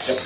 3.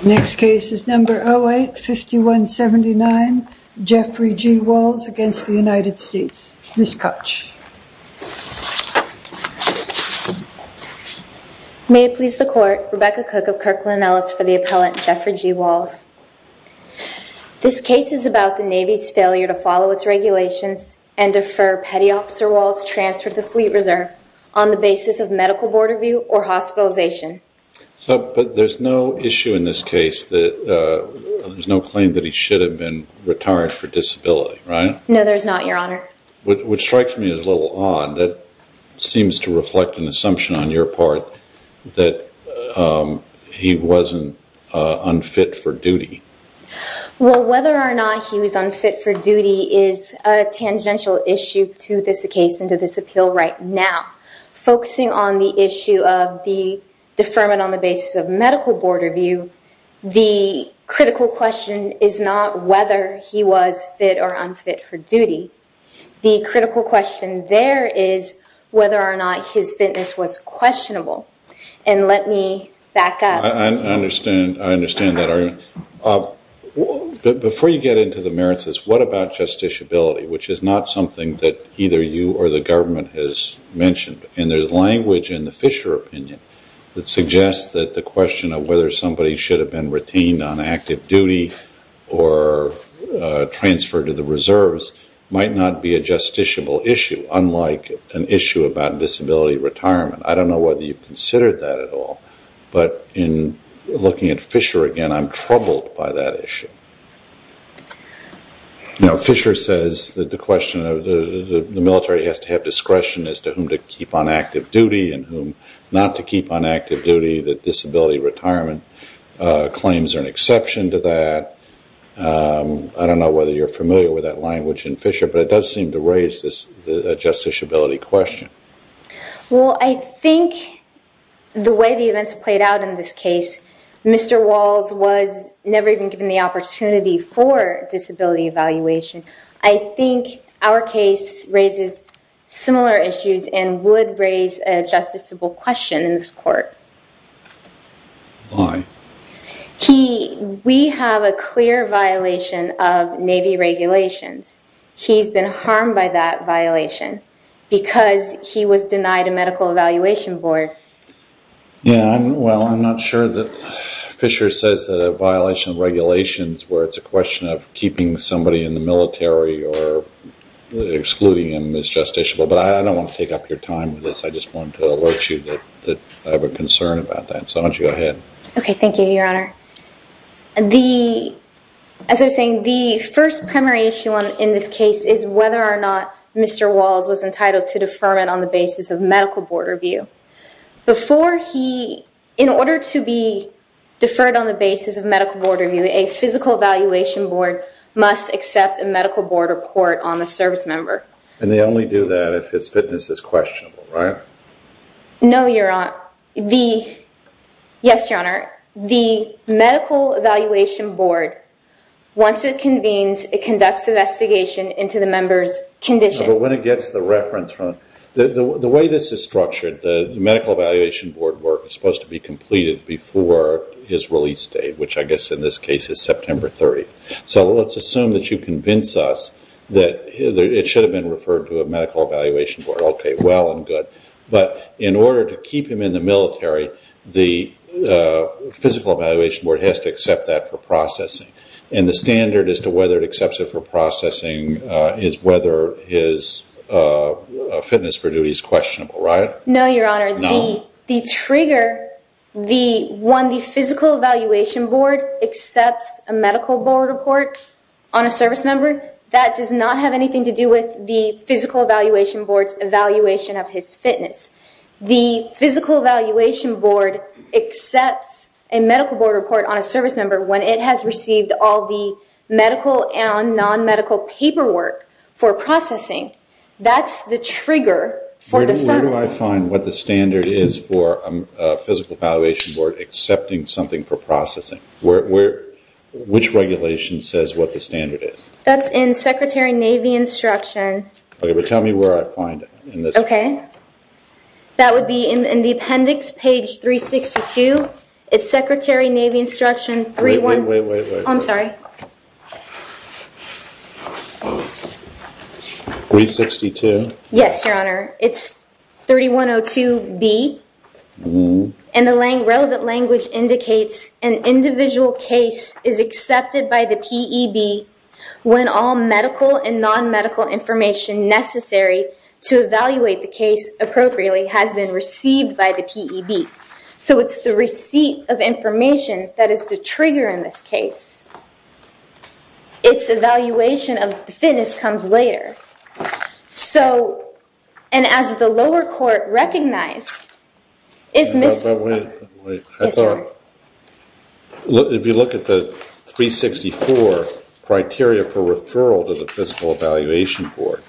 May it please the Court, Rebecca Cook of Kirkland Ellis for the appellant, Jeffrey G. Walls. This case is about the Navy's failure to follow its regulations and defer Petty Officer Walls' transfer to the Fleet Reserve on the basis of medical board review or hospitalization. But there's no issue in this case that there's no claim that he should have been retired for disability, right? No, there's not, Your Honor. Which strikes me as a little odd. That seems to reflect an assumption on your part that he wasn't unfit for duty. Well, whether or not he was unfit for duty is a tangential issue to this case and to this appeal right now. Focusing on the issue of the deferment on the basis of medical board review, the critical question is not whether he was fit or unfit for duty. The critical question there is whether or not his fitness was questionable. And let me back up. I understand that, Your Honor. Before you get into the merits of this, what about justiciability, which is not something that either you or the government has mentioned. And there's language in the Fisher opinion that suggests that the question of whether somebody should have been retained on active duty or transferred to the reserves might not be a justiciable issue, unlike an issue about disability retirement. I don't know whether you've considered that at all. But in looking at Fisher again, I'm troubled by that issue. You know, Fisher says that the question of the military has to have discretion as to whom to keep on active duty and whom not to keep on active duty, that disability retirement claims are an exception to that. I don't know whether you're familiar with that language in Fisher, but it does seem to raise this justiciability question. Well, I think the way the events played out in this case, Mr. Walls was never even given the opportunity for disability evaluation. I think our case raises similar issues and would raise a justiciable question in this court. Why? He, we have a clear violation of Navy regulations. He's been harmed by that violation because he was denied a medical evaluation board. Yeah, well, I'm not sure that Fisher says that a violation of regulations where it's a question of keeping somebody in the military or excluding him is justiciable. But I don't want to take up your time with this. I just wanted to alert you that I have a concern about that. So why don't you go ahead. Okay, thank you, Your Honor. The, as I was saying, the first primary issue in this case is whether or not Mr. Walls was entitled to deferment on the basis of medical board review. Before he, in order to be deferred on the basis of medical board review, a physical evaluation board must accept a medical board report on a service member. And they only do that if his fitness is questionable, right? No, Your Honor. Now, the, yes, Your Honor, the medical evaluation board, once it convenes, it conducts investigation into the member's condition. No, but when it gets the reference from, the way this is structured, the medical evaluation board work is supposed to be completed before his release date, which I guess in this case is September 30th. So let's assume that you convince us that it should have been referred to a medical evaluation board. Okay, well and good. But in order to keep him in the military, the physical evaluation board has to accept that for processing. And the standard as to whether it accepts it for processing is whether his fitness for duty is questionable, right? No, Your Honor. No? The trigger, the, when the physical evaluation board accepts a medical board report on a service member, that does not have anything to do with the physical evaluation board's evaluation of his fitness. The physical evaluation board accepts a medical board report on a service member when it has received all the medical and non-medical paperwork for processing. That's the trigger for the firm. Where do I find what the standard is for a physical evaluation board accepting something for processing? Which regulation says what the standard is? That's in Secretary Navy instruction. Okay, but tell me where I find it. Okay. That would be in the appendix, page 362. It's Secretary Navy instruction 3- Wait, wait, wait. I'm sorry. 362? Yes, Your Honor. It's 3102B. And the relevant language indicates an individual case is accepted by the P.E.B. when all medical and non-medical information necessary to evaluate the case appropriately has been received by the P.E.B. So it's the receipt of information that is the trigger in this case. It's evaluation of the fitness comes later. So and as the lower court recognized, if Ms. Wait, wait. Yes, Your Honor. So if you look at the 364 criteria for referral to the physical evaluation board,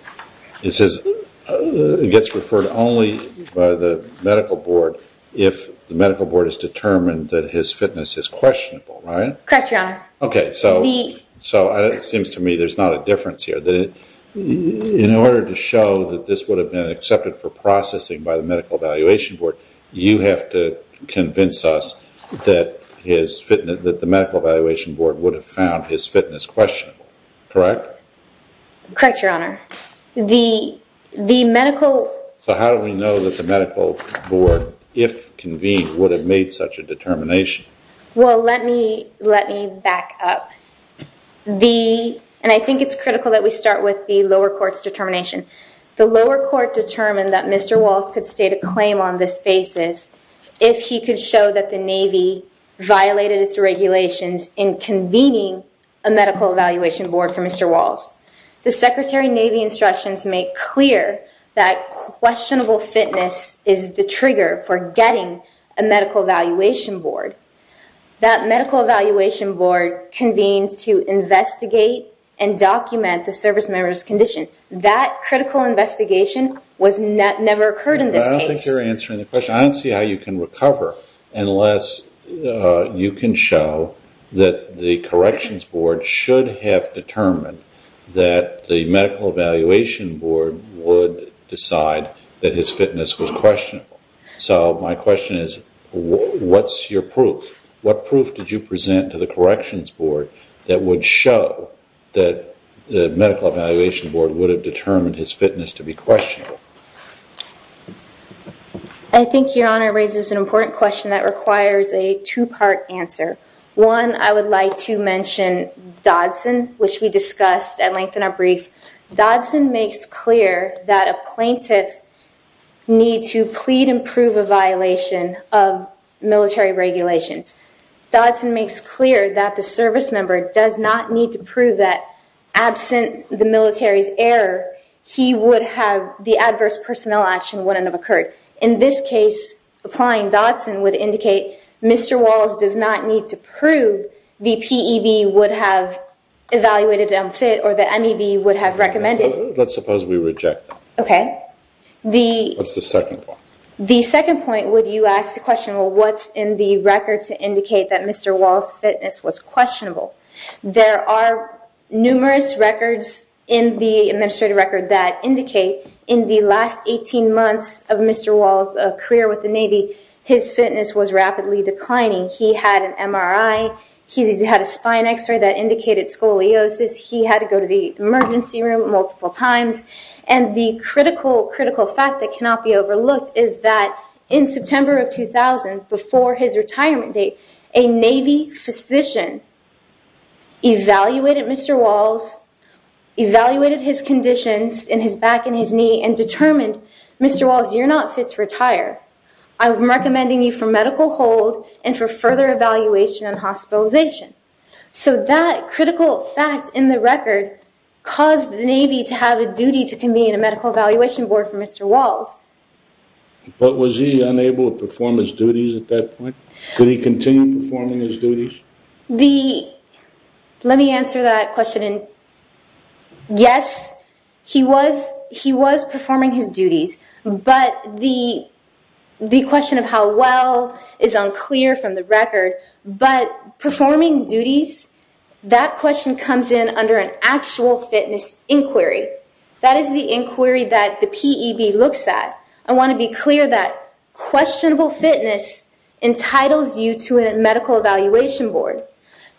it gets referred only by the medical board if the medical board has determined that his fitness is questionable. Right? Correct, Your Honor. Okay. So it seems to me there's not a difference here. In order to show that this would have been accepted for processing by the medical evaluation board, you have to convince us that the medical evaluation board would have found his fitness questionable. Correct? Correct, Your Honor. The medical... So how do we know that the medical board, if convened, would have made such a determination? Well, let me back up. The lower court determined that Mr. Walsh could state a claim on this basis if he could show that the Navy violated its regulations in convening a medical evaluation board for Mr. Walsh. The Secretary Navy instructions make clear that questionable fitness is the trigger for getting a medical evaluation board. That medical evaluation board convenes to investigate and document the service member's condition. That critical investigation never occurred in this case. I don't think you're answering the question. I don't see how you can recover unless you can show that the corrections board should have determined that the medical evaluation board would decide that his fitness was questionable. So my question is, what's your proof? What proof did you present to the corrections board that would show that the medical evaluation board would have determined his fitness to be questionable? I think Your Honor raises an important question that requires a two-part answer. One, I would like to mention Dodson, which we discussed at length in our brief. Dodson makes clear that a plaintiff needs to plead and prove a violation of military regulations. Dodson makes clear that the service member does not need to prove that absent the military's error, he would have the adverse personnel action wouldn't have occurred. In this case, applying Dodson would indicate Mr. Walsh does not need to prove the PEB would have evaluated unfit or the MEB would have recommended. Let's suppose we reject that. Okay. What's the second point? The second point would you ask the question, well, what's in the record to indicate that Mr. Walsh's fitness was questionable? There are numerous records in the administrative record that indicate in the last 18 months of Mr. Walsh's career with the Navy, his fitness was rapidly declining. He had an MRI. He had a spine x-ray that indicated scoliosis. He had to go to the emergency room multiple times. The critical, critical fact that cannot be overlooked is that in September of 2000, before his retirement date, a Navy physician evaluated Mr. Walsh, evaluated his conditions in his back and his knee and determined, Mr. Walsh, you're not fit to retire. I'm recommending you for medical hold and for further evaluation and hospitalization. So that critical fact in the record caused the Navy to have a duty to convene a medical evaluation board for Mr. Walsh. But was he unable to perform his duties at that point? Did he continue performing his duties? Let me answer that question. Yes, he was performing his duties, but the question of how well is unclear from the record, but performing duties, that question comes in under an actual fitness inquiry. That is the inquiry that the PEB looks at. I want to be clear that questionable fitness entitles you to a medical evaluation board.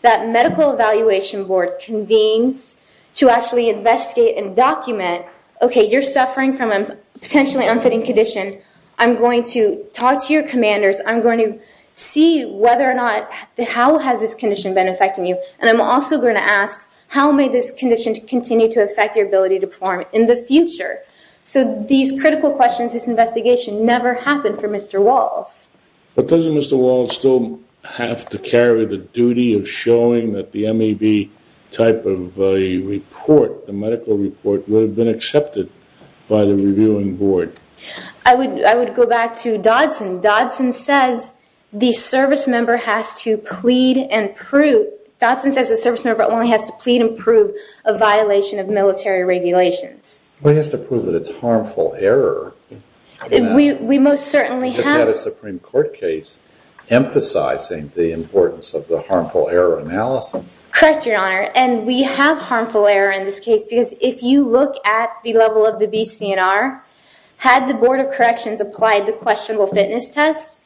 That medical evaluation board convenes to actually investigate and document, okay, you're suffering from a potentially unfitting condition. I'm going to talk to your commanders. I'm going to see whether or not, how has this condition been affecting you? And I'm also going to ask, how may this condition continue to affect your ability to perform in the future? So these critical questions, this investigation, never happened for Mr. Walsh. But doesn't Mr. Walsh still have to carry the duty of showing that the MEB type of a report, the medical report, would have been accepted by the reviewing board? I would go back to Dodson. Dodson says the service member has to plead and prove, Dodson says the service member only has to plead and prove a violation of military regulations. We have to prove that it's harmful error. We most certainly have. Is that a Supreme Court case emphasizing the importance of the harmful error analysis? Correct, Your Honor, and we have harmful error in this case because if you look at the level of the BC&R, had the Board of Corrections applied the questionable fitness test,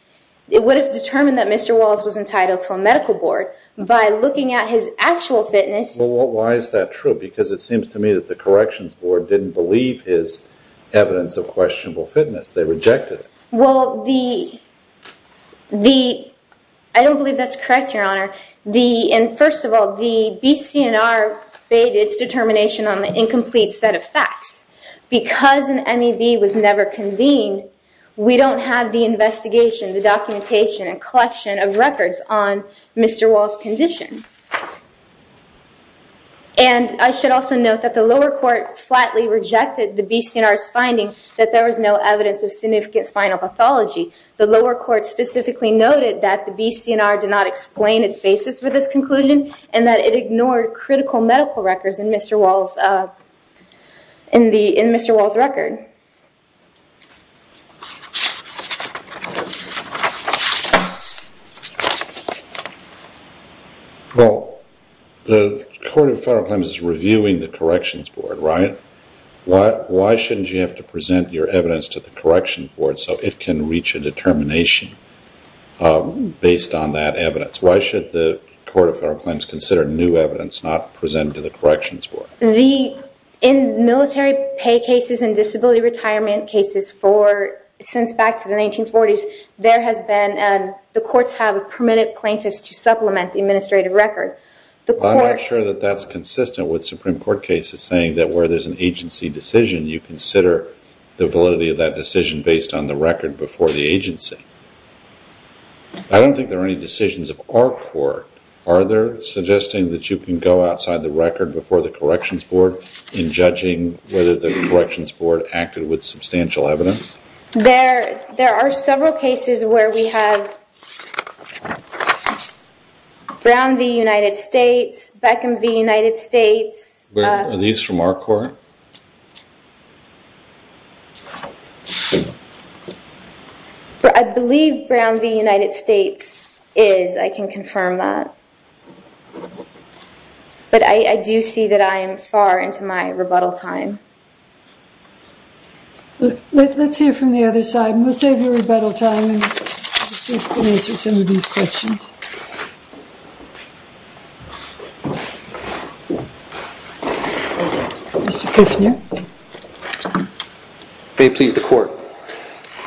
it would have determined that Mr. Walsh was entitled to a medical board. By looking at his actual fitness... Well, why is that true? Because it seems to me that the corrections board didn't believe his evidence of questionable fitness. They rejected it. Well, the... I don't believe that's correct, Your Honor. First of all, the BC&R bade its determination on the incomplete set of facts. Because an MEV was never convened, we don't have the investigation, the documentation, and collection of records on Mr. Walsh's condition. I should also note that the lower court flatly rejected the BC&R's finding that there was no evidence of significant spinal pathology. The lower court specifically noted that the BC&R did not explain its basis for this conclusion and that it ignored critical medical records in Mr. Walsh's record. Well, the Court of Federal Claims is reviewing the corrections board, right? Why shouldn't you have to present your evidence to the corrections board so it can reach a determination based on that evidence? Why should the Court of Federal Claims consider new evidence not presented to the corrections board? The... In military pay cases and disability retirement cases for... Since back to the 1940s, there has been... The courts have permitted plaintiffs to supplement the administrative record. The court... I'm not sure that that's consistent with Supreme Court cases, saying that where there's an agency decision, you consider the validity of that decision based on the record before the agency. I don't think there are any decisions of our court. Are there suggesting that you can go outside the record before the corrections board in judging whether the corrections board acted with substantial evidence? There are several cases where we have Brown v. United States, Beckham v. United States... Are these from our court? I believe Brown v. United States is, I can confirm that, but I do see that I am far into my rebuttal time. Let's hear from the other side. We'll save your rebuttal time and see if we can answer some of these questions. Mr. Kushner? May it please the court.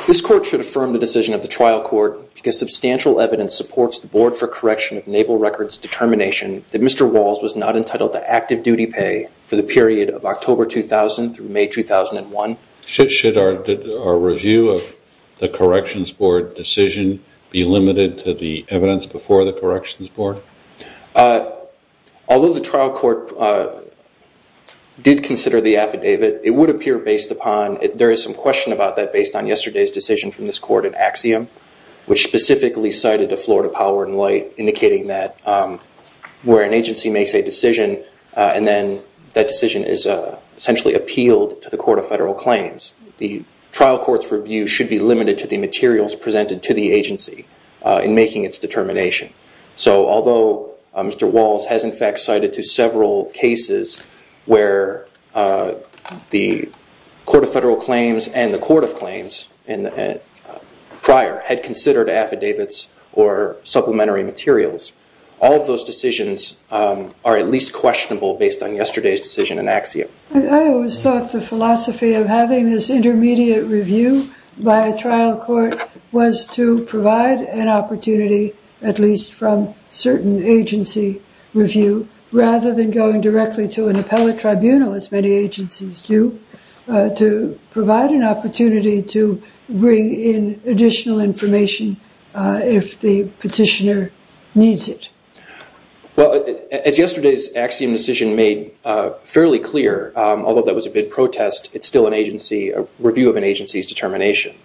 This court should affirm the decision of the trial court because substantial evidence supports the board for correction of naval records determination that Mr. Walls was not entitled to active duty pay for the period of October 2000 through May 2001. Should our review of the corrections board decision be limited to the evidence before the corrections board? Although the trial court did consider the affidavit, it would appear based upon... There is some question about that based on yesterday's decision from this court in Axiom, which specifically cited the Florida Power and Light, indicating that where an agency makes a decision and then that decision is essentially appealed to the court of federal claims, the trial court's review should be limited to the materials presented to the agency in making its determination. Although Mr. Walls has in fact cited to several cases where the court of federal claims and the court of claims prior had considered affidavits or supplementary materials, all of those decisions are at least questionable based on yesterday's decision in Axiom. I always thought the philosophy of having this intermediate review by a trial court was to provide an opportunity at least from certain agency review rather than going directly to an appellate tribunal, as many agencies do, to provide an opportunity to bring in additional information if the petitioner needs it. Well, as yesterday's Axiom decision made fairly clear, although that was a big protest, it's still a review of an agency's determination.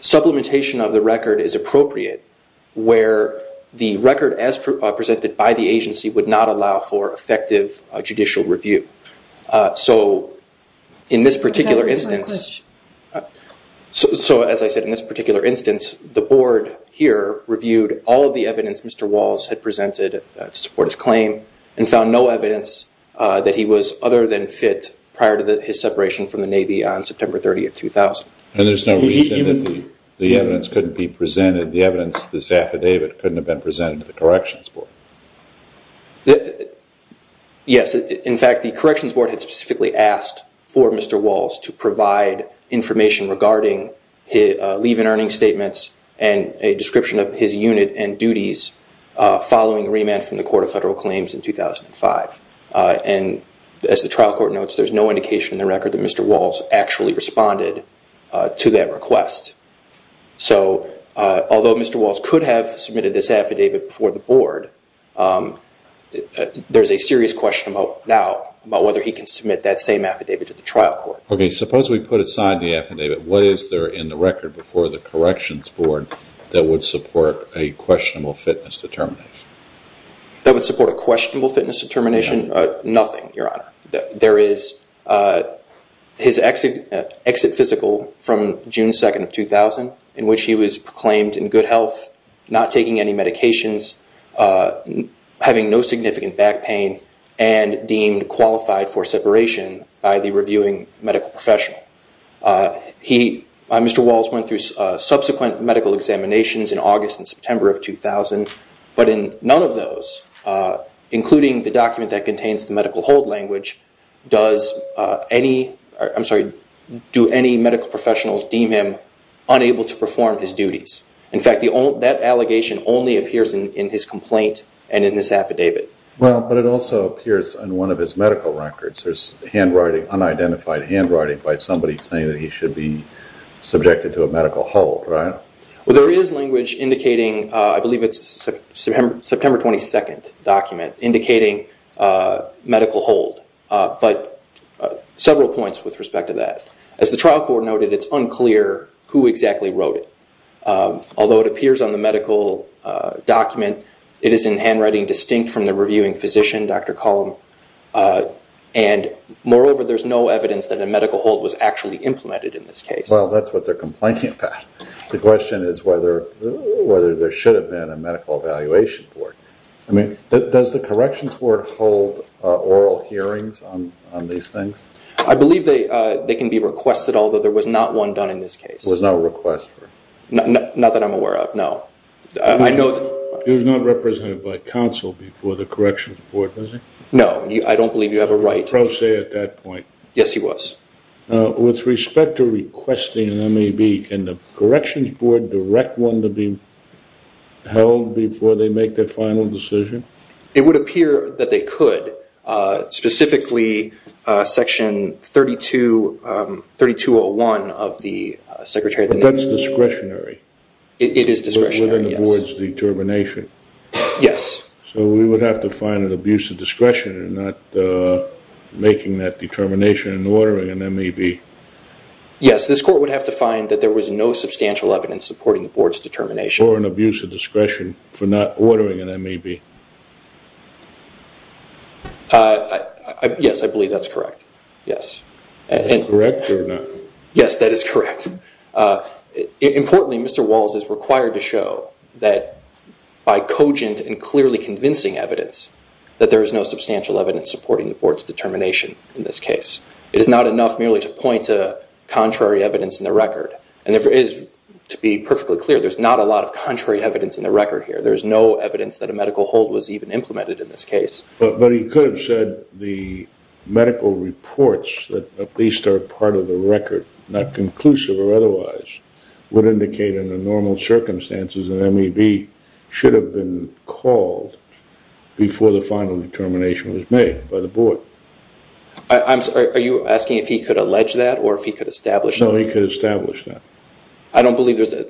Supplementation of the record is appropriate where the record as presented by the agency would not allow for effective judicial review. In this particular instance, as I said, in this particular instance, the board here reviewed all of the evidence Mr. Walls had presented to support his claim and found no evidence that he was other than fit prior to his separation from the Navy on September 30, 2000. And there's no reason that the evidence couldn't be presented, the evidence of this affidavit couldn't have been presented to the Corrections Board? Yes. In fact, the Corrections Board had specifically asked for Mr. Walls to provide information regarding leave and earnings statements and a description of his unit and duties following remand from the Court of Federal Claims in 2005. And as the trial court notes, there's no indication in the record that Mr. Walls actually responded to that request. So although Mr. Walls could have submitted this affidavit before the board, there's a serious question now about whether he can submit that same affidavit to the trial court. Okay, suppose we put aside the affidavit. What is there in the record before the Corrections Board that would support a questionable fitness determination? That would support a questionable fitness determination? Nothing, Your Honor. There is his exit physical from June 2, 2000, in which he was proclaimed in good health, not taking any medications, having no significant back pain, and deemed qualified for separation by the reviewing medical professional. Mr. Walls went through subsequent medical examinations in August and September of 2000, but in none of those, including the document that contains the medical hold language, do any medical professionals deem him unable to perform his duties? In fact, that allegation only appears in his complaint and in his affidavit. Well, but it also appears in one of his medical records. There's unidentified handwriting by somebody saying that he should be subjected to a medical hold, right? Well, there is language indicating, I believe it's September 22nd document, indicating medical hold, but several points with respect to that. As the trial court noted, it's unclear who exactly wrote it. Although it appears on the medical document, it is in handwriting distinct from the reviewing physician, Dr. Cullum, and moreover, there's no evidence that a medical hold was actually implemented in this case. Well, that's what they're complaining about. The question is whether there should have been a medical evaluation board. Does the corrections board hold oral hearings on these things? I believe they can be requested, although there was not one done in this case. There was no request for it? Not that I'm aware of, no. It was not represented by counsel before the corrections board, was it? No. I don't believe you have a right- A pro se at that point. Yes, he was. With respect to requesting an MEB, can the corrections board direct one to be held before they make their final decision? It would appear that they could, specifically Section 3201 of the Secretary of the- But that's discretionary. It is discretionary, yes. Within the board's determination. Yes. So we would have to find an abuse of discretion in not making that determination and ordering an MEB. Yes. This court would have to find that there was no substantial evidence supporting the board's determination. Or an abuse of discretion for not ordering an MEB. Yes, I believe that's correct. Yes. Is that correct or not? Yes, that is correct. Importantly, Mr. Walls is required to show that by cogent and clearly convincing evidence that there is no substantial evidence supporting the board's determination in this case. It is not enough merely to point to contrary evidence in the record. And to be perfectly clear, there's not a lot of contrary evidence in the record here. There's no evidence that a medical hold was even implemented in this case. But he could have said the medical reports that at least are part of the record, not conclusive or otherwise, would indicate in the normal circumstances an MEB should have been called before the final determination was made by the board. Are you asking if he could allege that or if he could establish that? No, he could establish that. I don't believe there's a...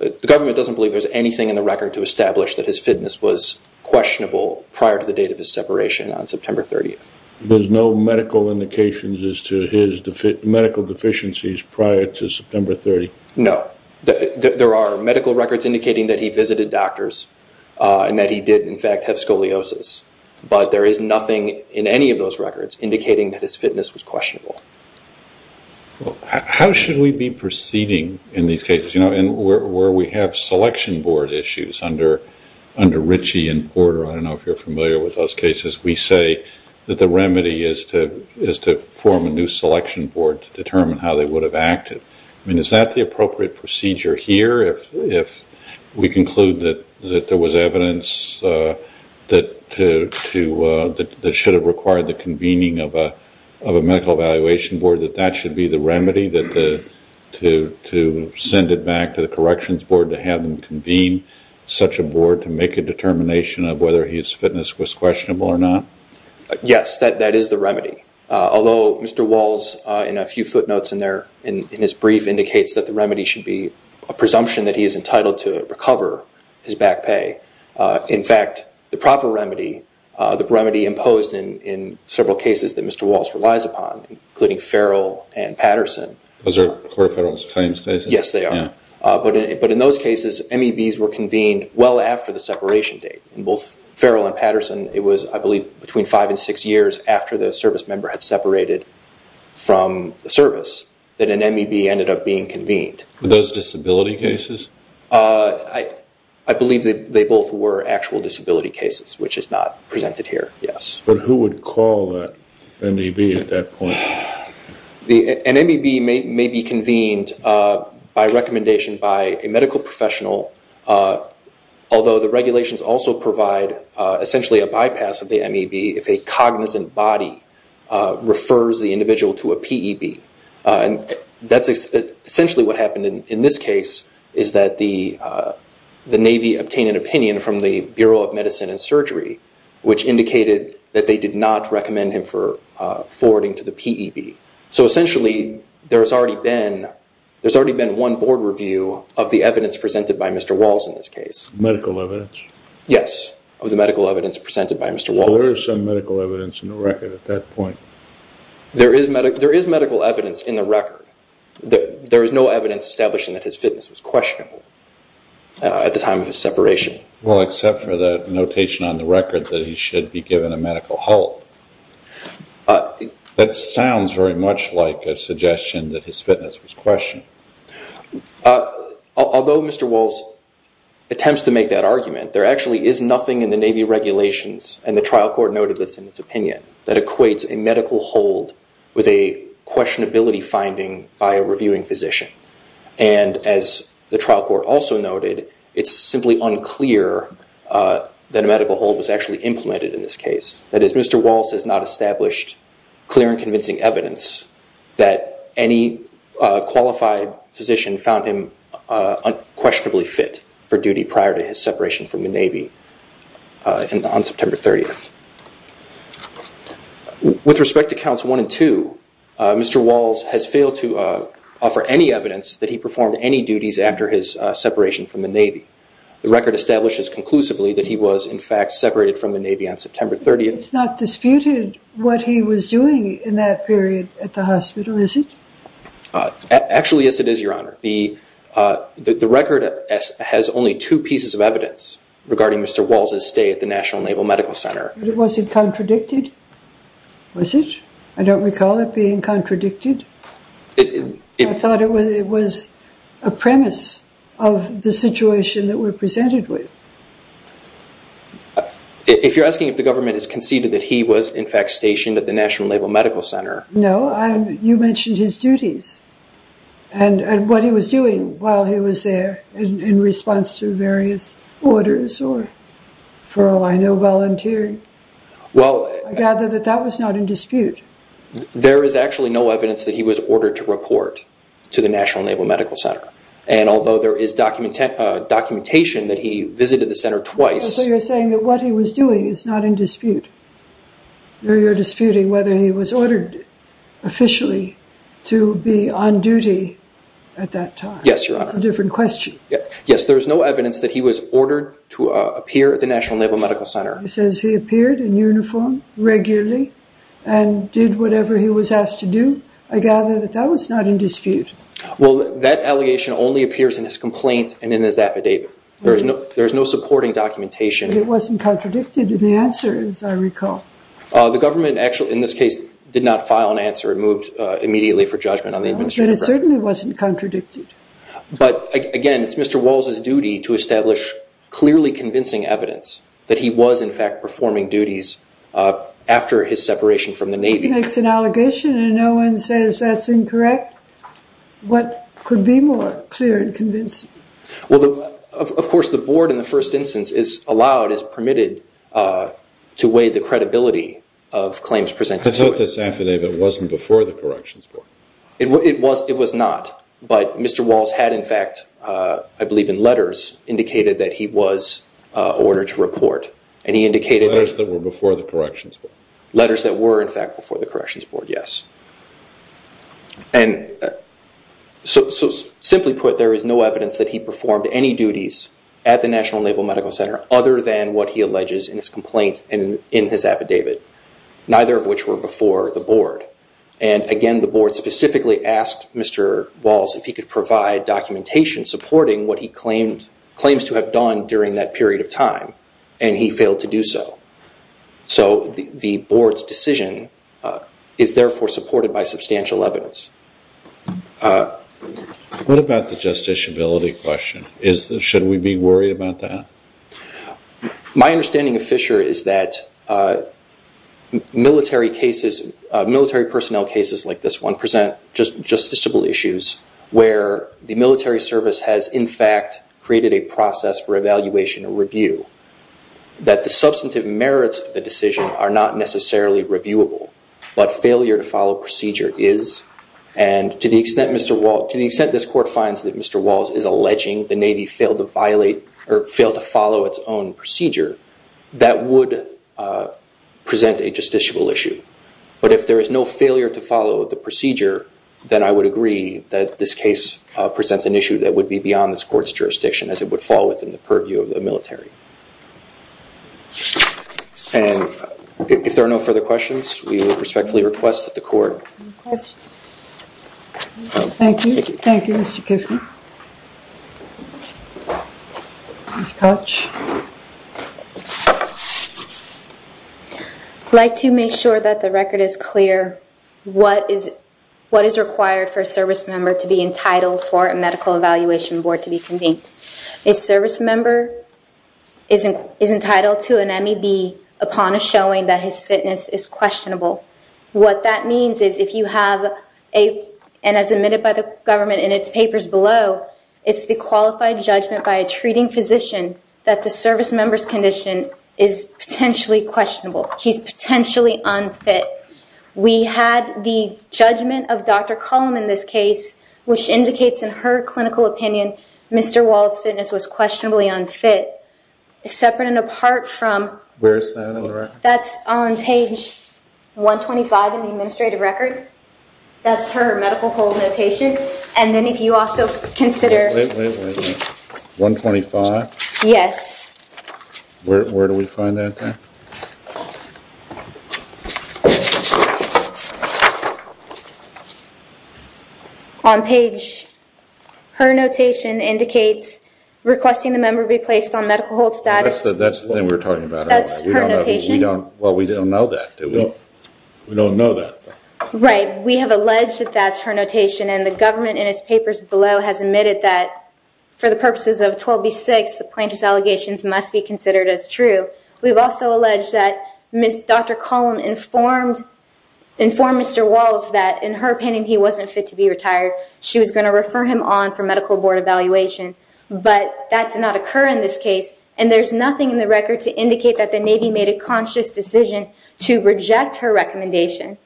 The government doesn't believe there's anything in the record to establish that his fitness was questionable prior to the date of his separation on September 30th. There's no medical indications as to his medical deficiencies prior to September 30th? No. There are medical records indicating that he visited doctors and that he did in fact have scoliosis. But there is nothing in any of those records indicating that his fitness was questionable. Well, how should we be proceeding in these cases, you know, where we have selection board issues under Ritchie and Porter? I don't know if you're familiar with those cases. We say that the remedy is to form a new selection board to determine how they would have acted. I mean, is that the appropriate procedure here if we conclude that there was evidence that should have required the convening of a medical evaluation board, that that should be the remedy, to send it back to the corrections board to have them convene such a board to make a determination of whether his fitness was questionable or not? Yes, that is the remedy. Although Mr. Walls, in a few footnotes in his brief, indicates that the remedy should be a presumption that he is entitled to recover his back pay, in fact, the proper remedy, the remedy imposed in several cases that Mr. Walls relies upon, including Farrell and Patterson. Those are core federal claims cases? Yes, they are. But in those cases, MEBs were convened well after the separation date. In both Farrell and Patterson, it was, I believe, between five and six years after the service member had separated from the service that an MEB ended up being convened. Were those disability cases? I believe they both were actual disability cases, which is not presented here, yes. But who would call that MEB at that point? An MEB may be convened by recommendation by a medical professional, although the regulations also provide essentially a bypass of the MEB if a cognizant body refers the individual to a PEB. And that's essentially what happened in this case, is that the Navy obtained an opinion from the Bureau of Medicine and Surgery, which indicated that they did not recommend him for forwarding to the PEB. So essentially, there's already been one board review of the evidence presented by Mr. Walls in this case. Medical evidence? Yes, of the medical evidence presented by Mr. Walls. So there is some medical evidence in the record at that point? There is medical evidence in the record. There is no evidence establishing that his fitness was questionable at the time of his separation. Well, except for the notation on the record that he should be given a medical halt. That sounds very much like a suggestion that his fitness was questionable. Although Mr. Walls attempts to make that argument, there actually is nothing in the Navy regulations and the trial court noted this in its opinion, that equates a medical hold with a questionability finding by a reviewing physician. And as the trial court also noted, it's simply unclear that a medical hold was actually implemented in this case. That is, Mr. Walls has not established clear and convincing evidence that any qualified physician found him unquestionably fit for duty prior to his separation from the Navy on September 30th. With respect to counts 1 and 2, Mr. Walls has failed to offer any evidence that he performed any duties after his separation from the Navy. The record establishes conclusively that he was in fact separated from the Navy on September 30th. It's not disputed what he was doing in that period at the hospital, is it? Actually yes it is, Your Honor. The record has only two pieces of evidence regarding Mr. Walls' stay at the National Naval Medical Center. But it wasn't contradicted, was it? I don't recall it being contradicted. I thought it was a premise of the situation that we're presented with. If you're asking if the government has conceded that he was in fact stationed at the National Naval Medical Center... No, you mentioned his duties. And what he was doing while he was there in response to various orders or, for all I know, volunteering. I gather that that was not in dispute. There is actually no evidence that he was ordered to report to the National Naval Medical Center. And although there is documentation that he visited the center twice... So you're saying that what he was doing is not in dispute. You're disputing whether he was ordered officially to be on duty at that time. Yes, Your Honor. It's a different question. Yes, there is no evidence that he was ordered to appear at the National Naval Medical Center. He says he appeared in uniform regularly and did whatever he was asked to do. I gather that that was not in dispute. Well, that allegation only appears in his complaint and in his affidavit. There is no supporting documentation. It wasn't contradicted in the answer, as I recall. The government actually, in this case, did not file an answer. It moved immediately for judgment on the administrative... But it certainly wasn't contradicted. But, again, it's Mr. Walz's duty to establish clearly convincing evidence that he was in fact performing duties after his separation from the Navy. He makes an allegation and no one says that's incorrect. What could be more clear and convincing? Of course, the Board, in the first instance, is allowed, is permitted, to weigh the credibility of claims presented to it. I thought this affidavit wasn't before the Corrections Board. It was not, but Mr. Walz had, in fact, I believe in letters, indicated that he was ordered to report. Letters that were before the Corrections Board. Letters that were, in fact, before the Corrections Board, yes. Simply put, there is no evidence that he performed any duties at the National Naval Medical Center other than what he alleges in his complaint in his affidavit, neither of which were before the Board. Again, the Board specifically asked Mr. Walz if he could provide documentation supporting what he claims to have done during that period of time, and he failed to do so. The Board's decision is therefore supported by substantial evidence. What about the justiciability question? Should we be worried about that? My understanding of Fisher is that military personnel cases like this one present justiciable issues where the military service has, in fact, created a process for evaluation and review. That the substantive merits of the decision are not necessarily reviewable, but failure to follow procedure is, and to the extent this Court finds that Mr. Walz is alleging the Navy failed to follow its own procedure, that would present a justiciable issue. But if there is no failure to follow the procedure, then I would agree that this case presents an issue that would be beyond this Court's jurisdiction, as it would fall within the purview of the military. And if there are no further questions, we would respectfully request that the Court... Any questions? Thank you. Thank you, Mr. Kiffin. Ms. Koch? I'd like to make sure that the record is clear. What is required for a service member to be entitled for a medical evaluation board to be convened? A service member is entitled to an MEB upon a showing that his fitness is questionable. What that means is if you have a... And as admitted by the government in its papers below, it's the qualified judgment by a treating physician that the service member's condition is potentially questionable. He's potentially unfit. We had the judgment of Dr. Cullum in this case, which indicates in her clinical opinion Mr. Walz's fitness was questionably unfit. Separate and apart from... Where is that on the record? That's on page 125 in the administrative record. That's her medical hold notation. And then if you also consider... Wait, wait, wait. 125? Yes. Where do we find that there? On page... Her notation indicates requesting the member be placed on medical hold status... That's the thing we were talking about earlier. That's her notation. We don't know that, do we? We don't know that. Right. We have alleged that that's her notation, and the government in its papers below has admitted that for the purposes of 12B6, the plaintiff's allegations must be considered as true. We've also alleged that Dr. Cullum informed Mr. Walz that in her opinion he wasn't fit to be retired. She was going to refer him on for medical board evaluation, but that did not occur in this case, and there's nothing in the record to indicate that the Navy made a conscious decision to reject her recommendation.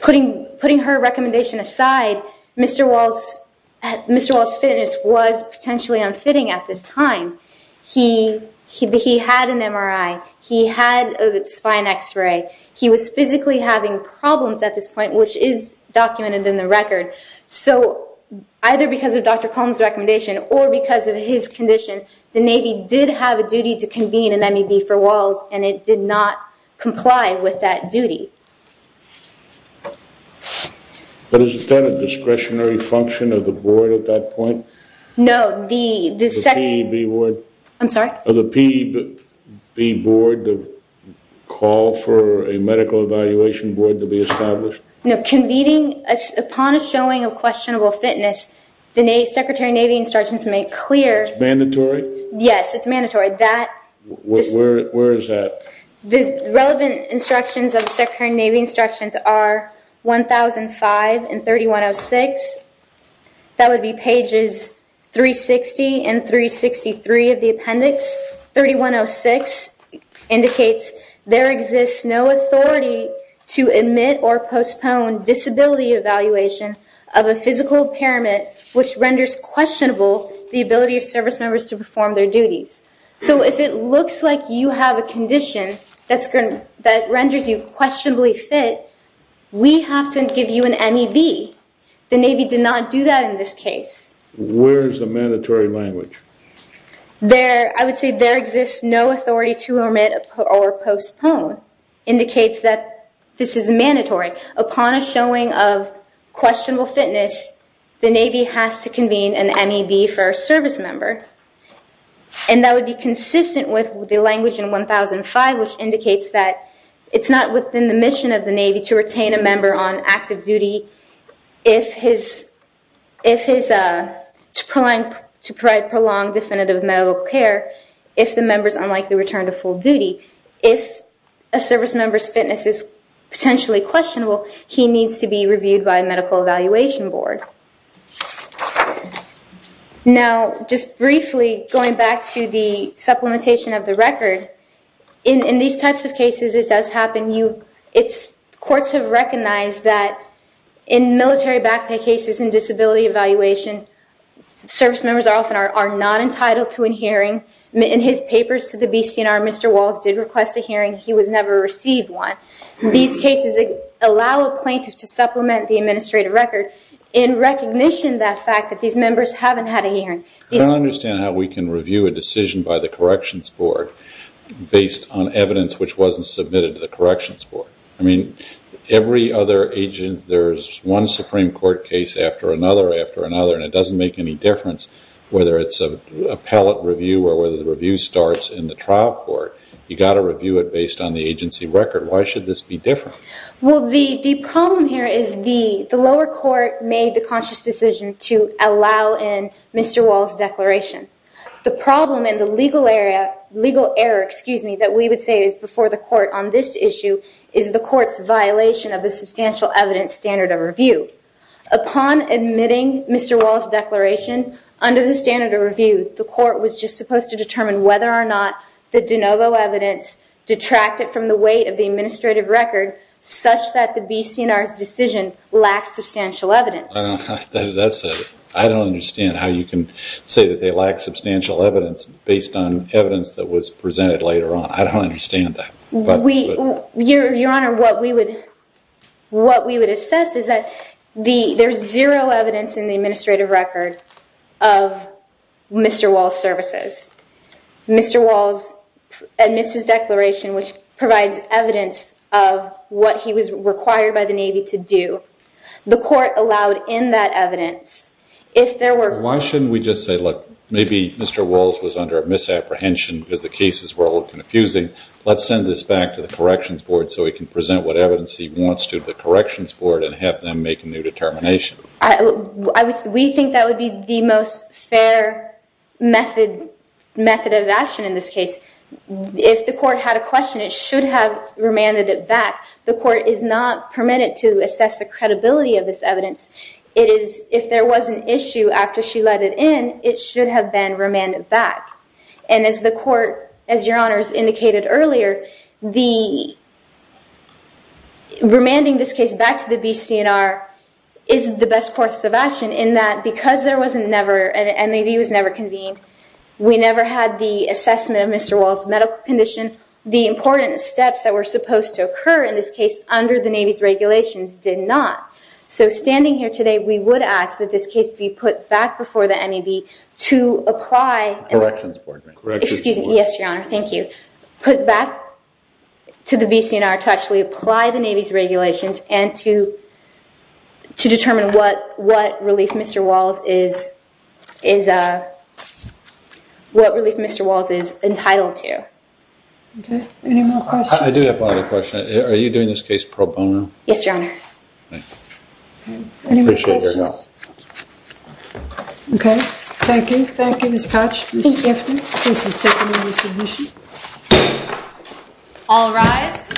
Putting her recommendation aside, Mr. Walz's fitness was potentially unfitting at this time. He had an MRI. He had a spine X-ray. He was physically having problems at this point, which is documented in the record. So either because of Dr. Cullum's recommendation or because of his condition, the Navy did have a duty to convene an MEB for Walz, and it did not comply with that duty. But is that a discretionary function of the board at that point? No. The PEB board to call for a medical evaluation board to be established? No. Upon a showing of questionable fitness, the Secretary of Navy instructions make clear. It's mandatory? Yes, it's mandatory. Where is that? The relevant instructions of the Secretary of Navy instructions are 1005 and 3106. That would be pages 360 and 363 of the appendix. 3106 indicates there exists no authority to admit or postpone disability evaluation of a physical impairment, which renders questionable the ability of service members to perform their duties. So if it looks like you have a condition that renders you questionably fit, we have to give you an MEB. The Navy did not do that in this case. Where is the mandatory language? I would say there exists no authority to omit or postpone. 3106 indicates that this is mandatory. Upon a showing of questionable fitness, the Navy has to convene an MEB for a service member. And that would be consistent with the language in 1005, which indicates that it's not within the mission of the Navy to retain a member on active duty to provide prolonged definitive medical care if the member is unlikely to return to full duty. If a service member's fitness is potentially questionable, he needs to be reviewed by a medical evaluation board. Now, just briefly, going back to the supplementation of the record, in these types of cases it does happen. Courts have recognized that in military backpack cases and disability evaluation, service members often are not entitled to an hearing. In his papers to the BCNR, Mr. Walz did request a hearing. He was never received one. These cases allow a plaintiff to supplement the administrative record in recognition of the fact that these members haven't had a hearing. I don't understand how we can review a decision by the corrections board based on evidence which wasn't submitted to the corrections board. I mean, every other agent, there's one Supreme Court case after another after another, and it doesn't make any difference whether it's an appellate review or whether the review starts in the trial court. You've got to review it based on the agency record. Why should this be different? Well, the problem here is the lower court made the conscious decision to allow in Mr. Walz's declaration. The problem in the legal error that we would say is before the court on this issue is the court's violation of the substantial evidence standard of review. Upon admitting Mr. Walz's declaration, under the standard of review, the court was just supposed to determine whether or not the de novo evidence detracted from the weight of the administrative record such that the BCNR's decision lacked substantial evidence. I don't understand how you can say that they lacked substantial evidence based on evidence that was presented later on. I don't understand that. Your Honor, what we would assess is that there's zero evidence in the administrative record of Mr. Walz's services. Mr. Walz admits his declaration which provides evidence of what he was required by the Navy to do. The court allowed in that evidence if there were... Why shouldn't we just say, look, maybe Mr. Walz was under a misapprehension because the cases were all confusing. Let's send this back to the Corrections Board so we can present what evidence he wants to the Corrections Board and have them make a new determination. We think that would be the most fair method of action in this case. If the court had a question, it should have remanded it back. The court is not permitted to assess the credibility of this evidence. If there was an issue after she let it in, it should have been remanded back. As the court, as Your Honor has indicated earlier, remanding this case back to the BC&R is the best course of action in that because there was never... an MAB was never convened, we never had the assessment of Mr. Walz's medical condition, the important steps that were supposed to occur in this case under the Navy's regulations did not. Standing here today, we would ask that this case be put back before the MAB to apply... Corrections Board, ma'am. Excuse me. Yes, Your Honor. Thank you. Put back to the BC&R to actually apply the Navy's regulations and to determine what relief Mr. Walz is entitled to. Okay. Any more questions? I do have one other question. Are you doing this case pro bono? Yes, Your Honor. Okay. Any more questions? I appreciate your help. Okay. Thank you. Thank you, Ms. Koch. Ms. Giffney. This is taken under submission. All rise.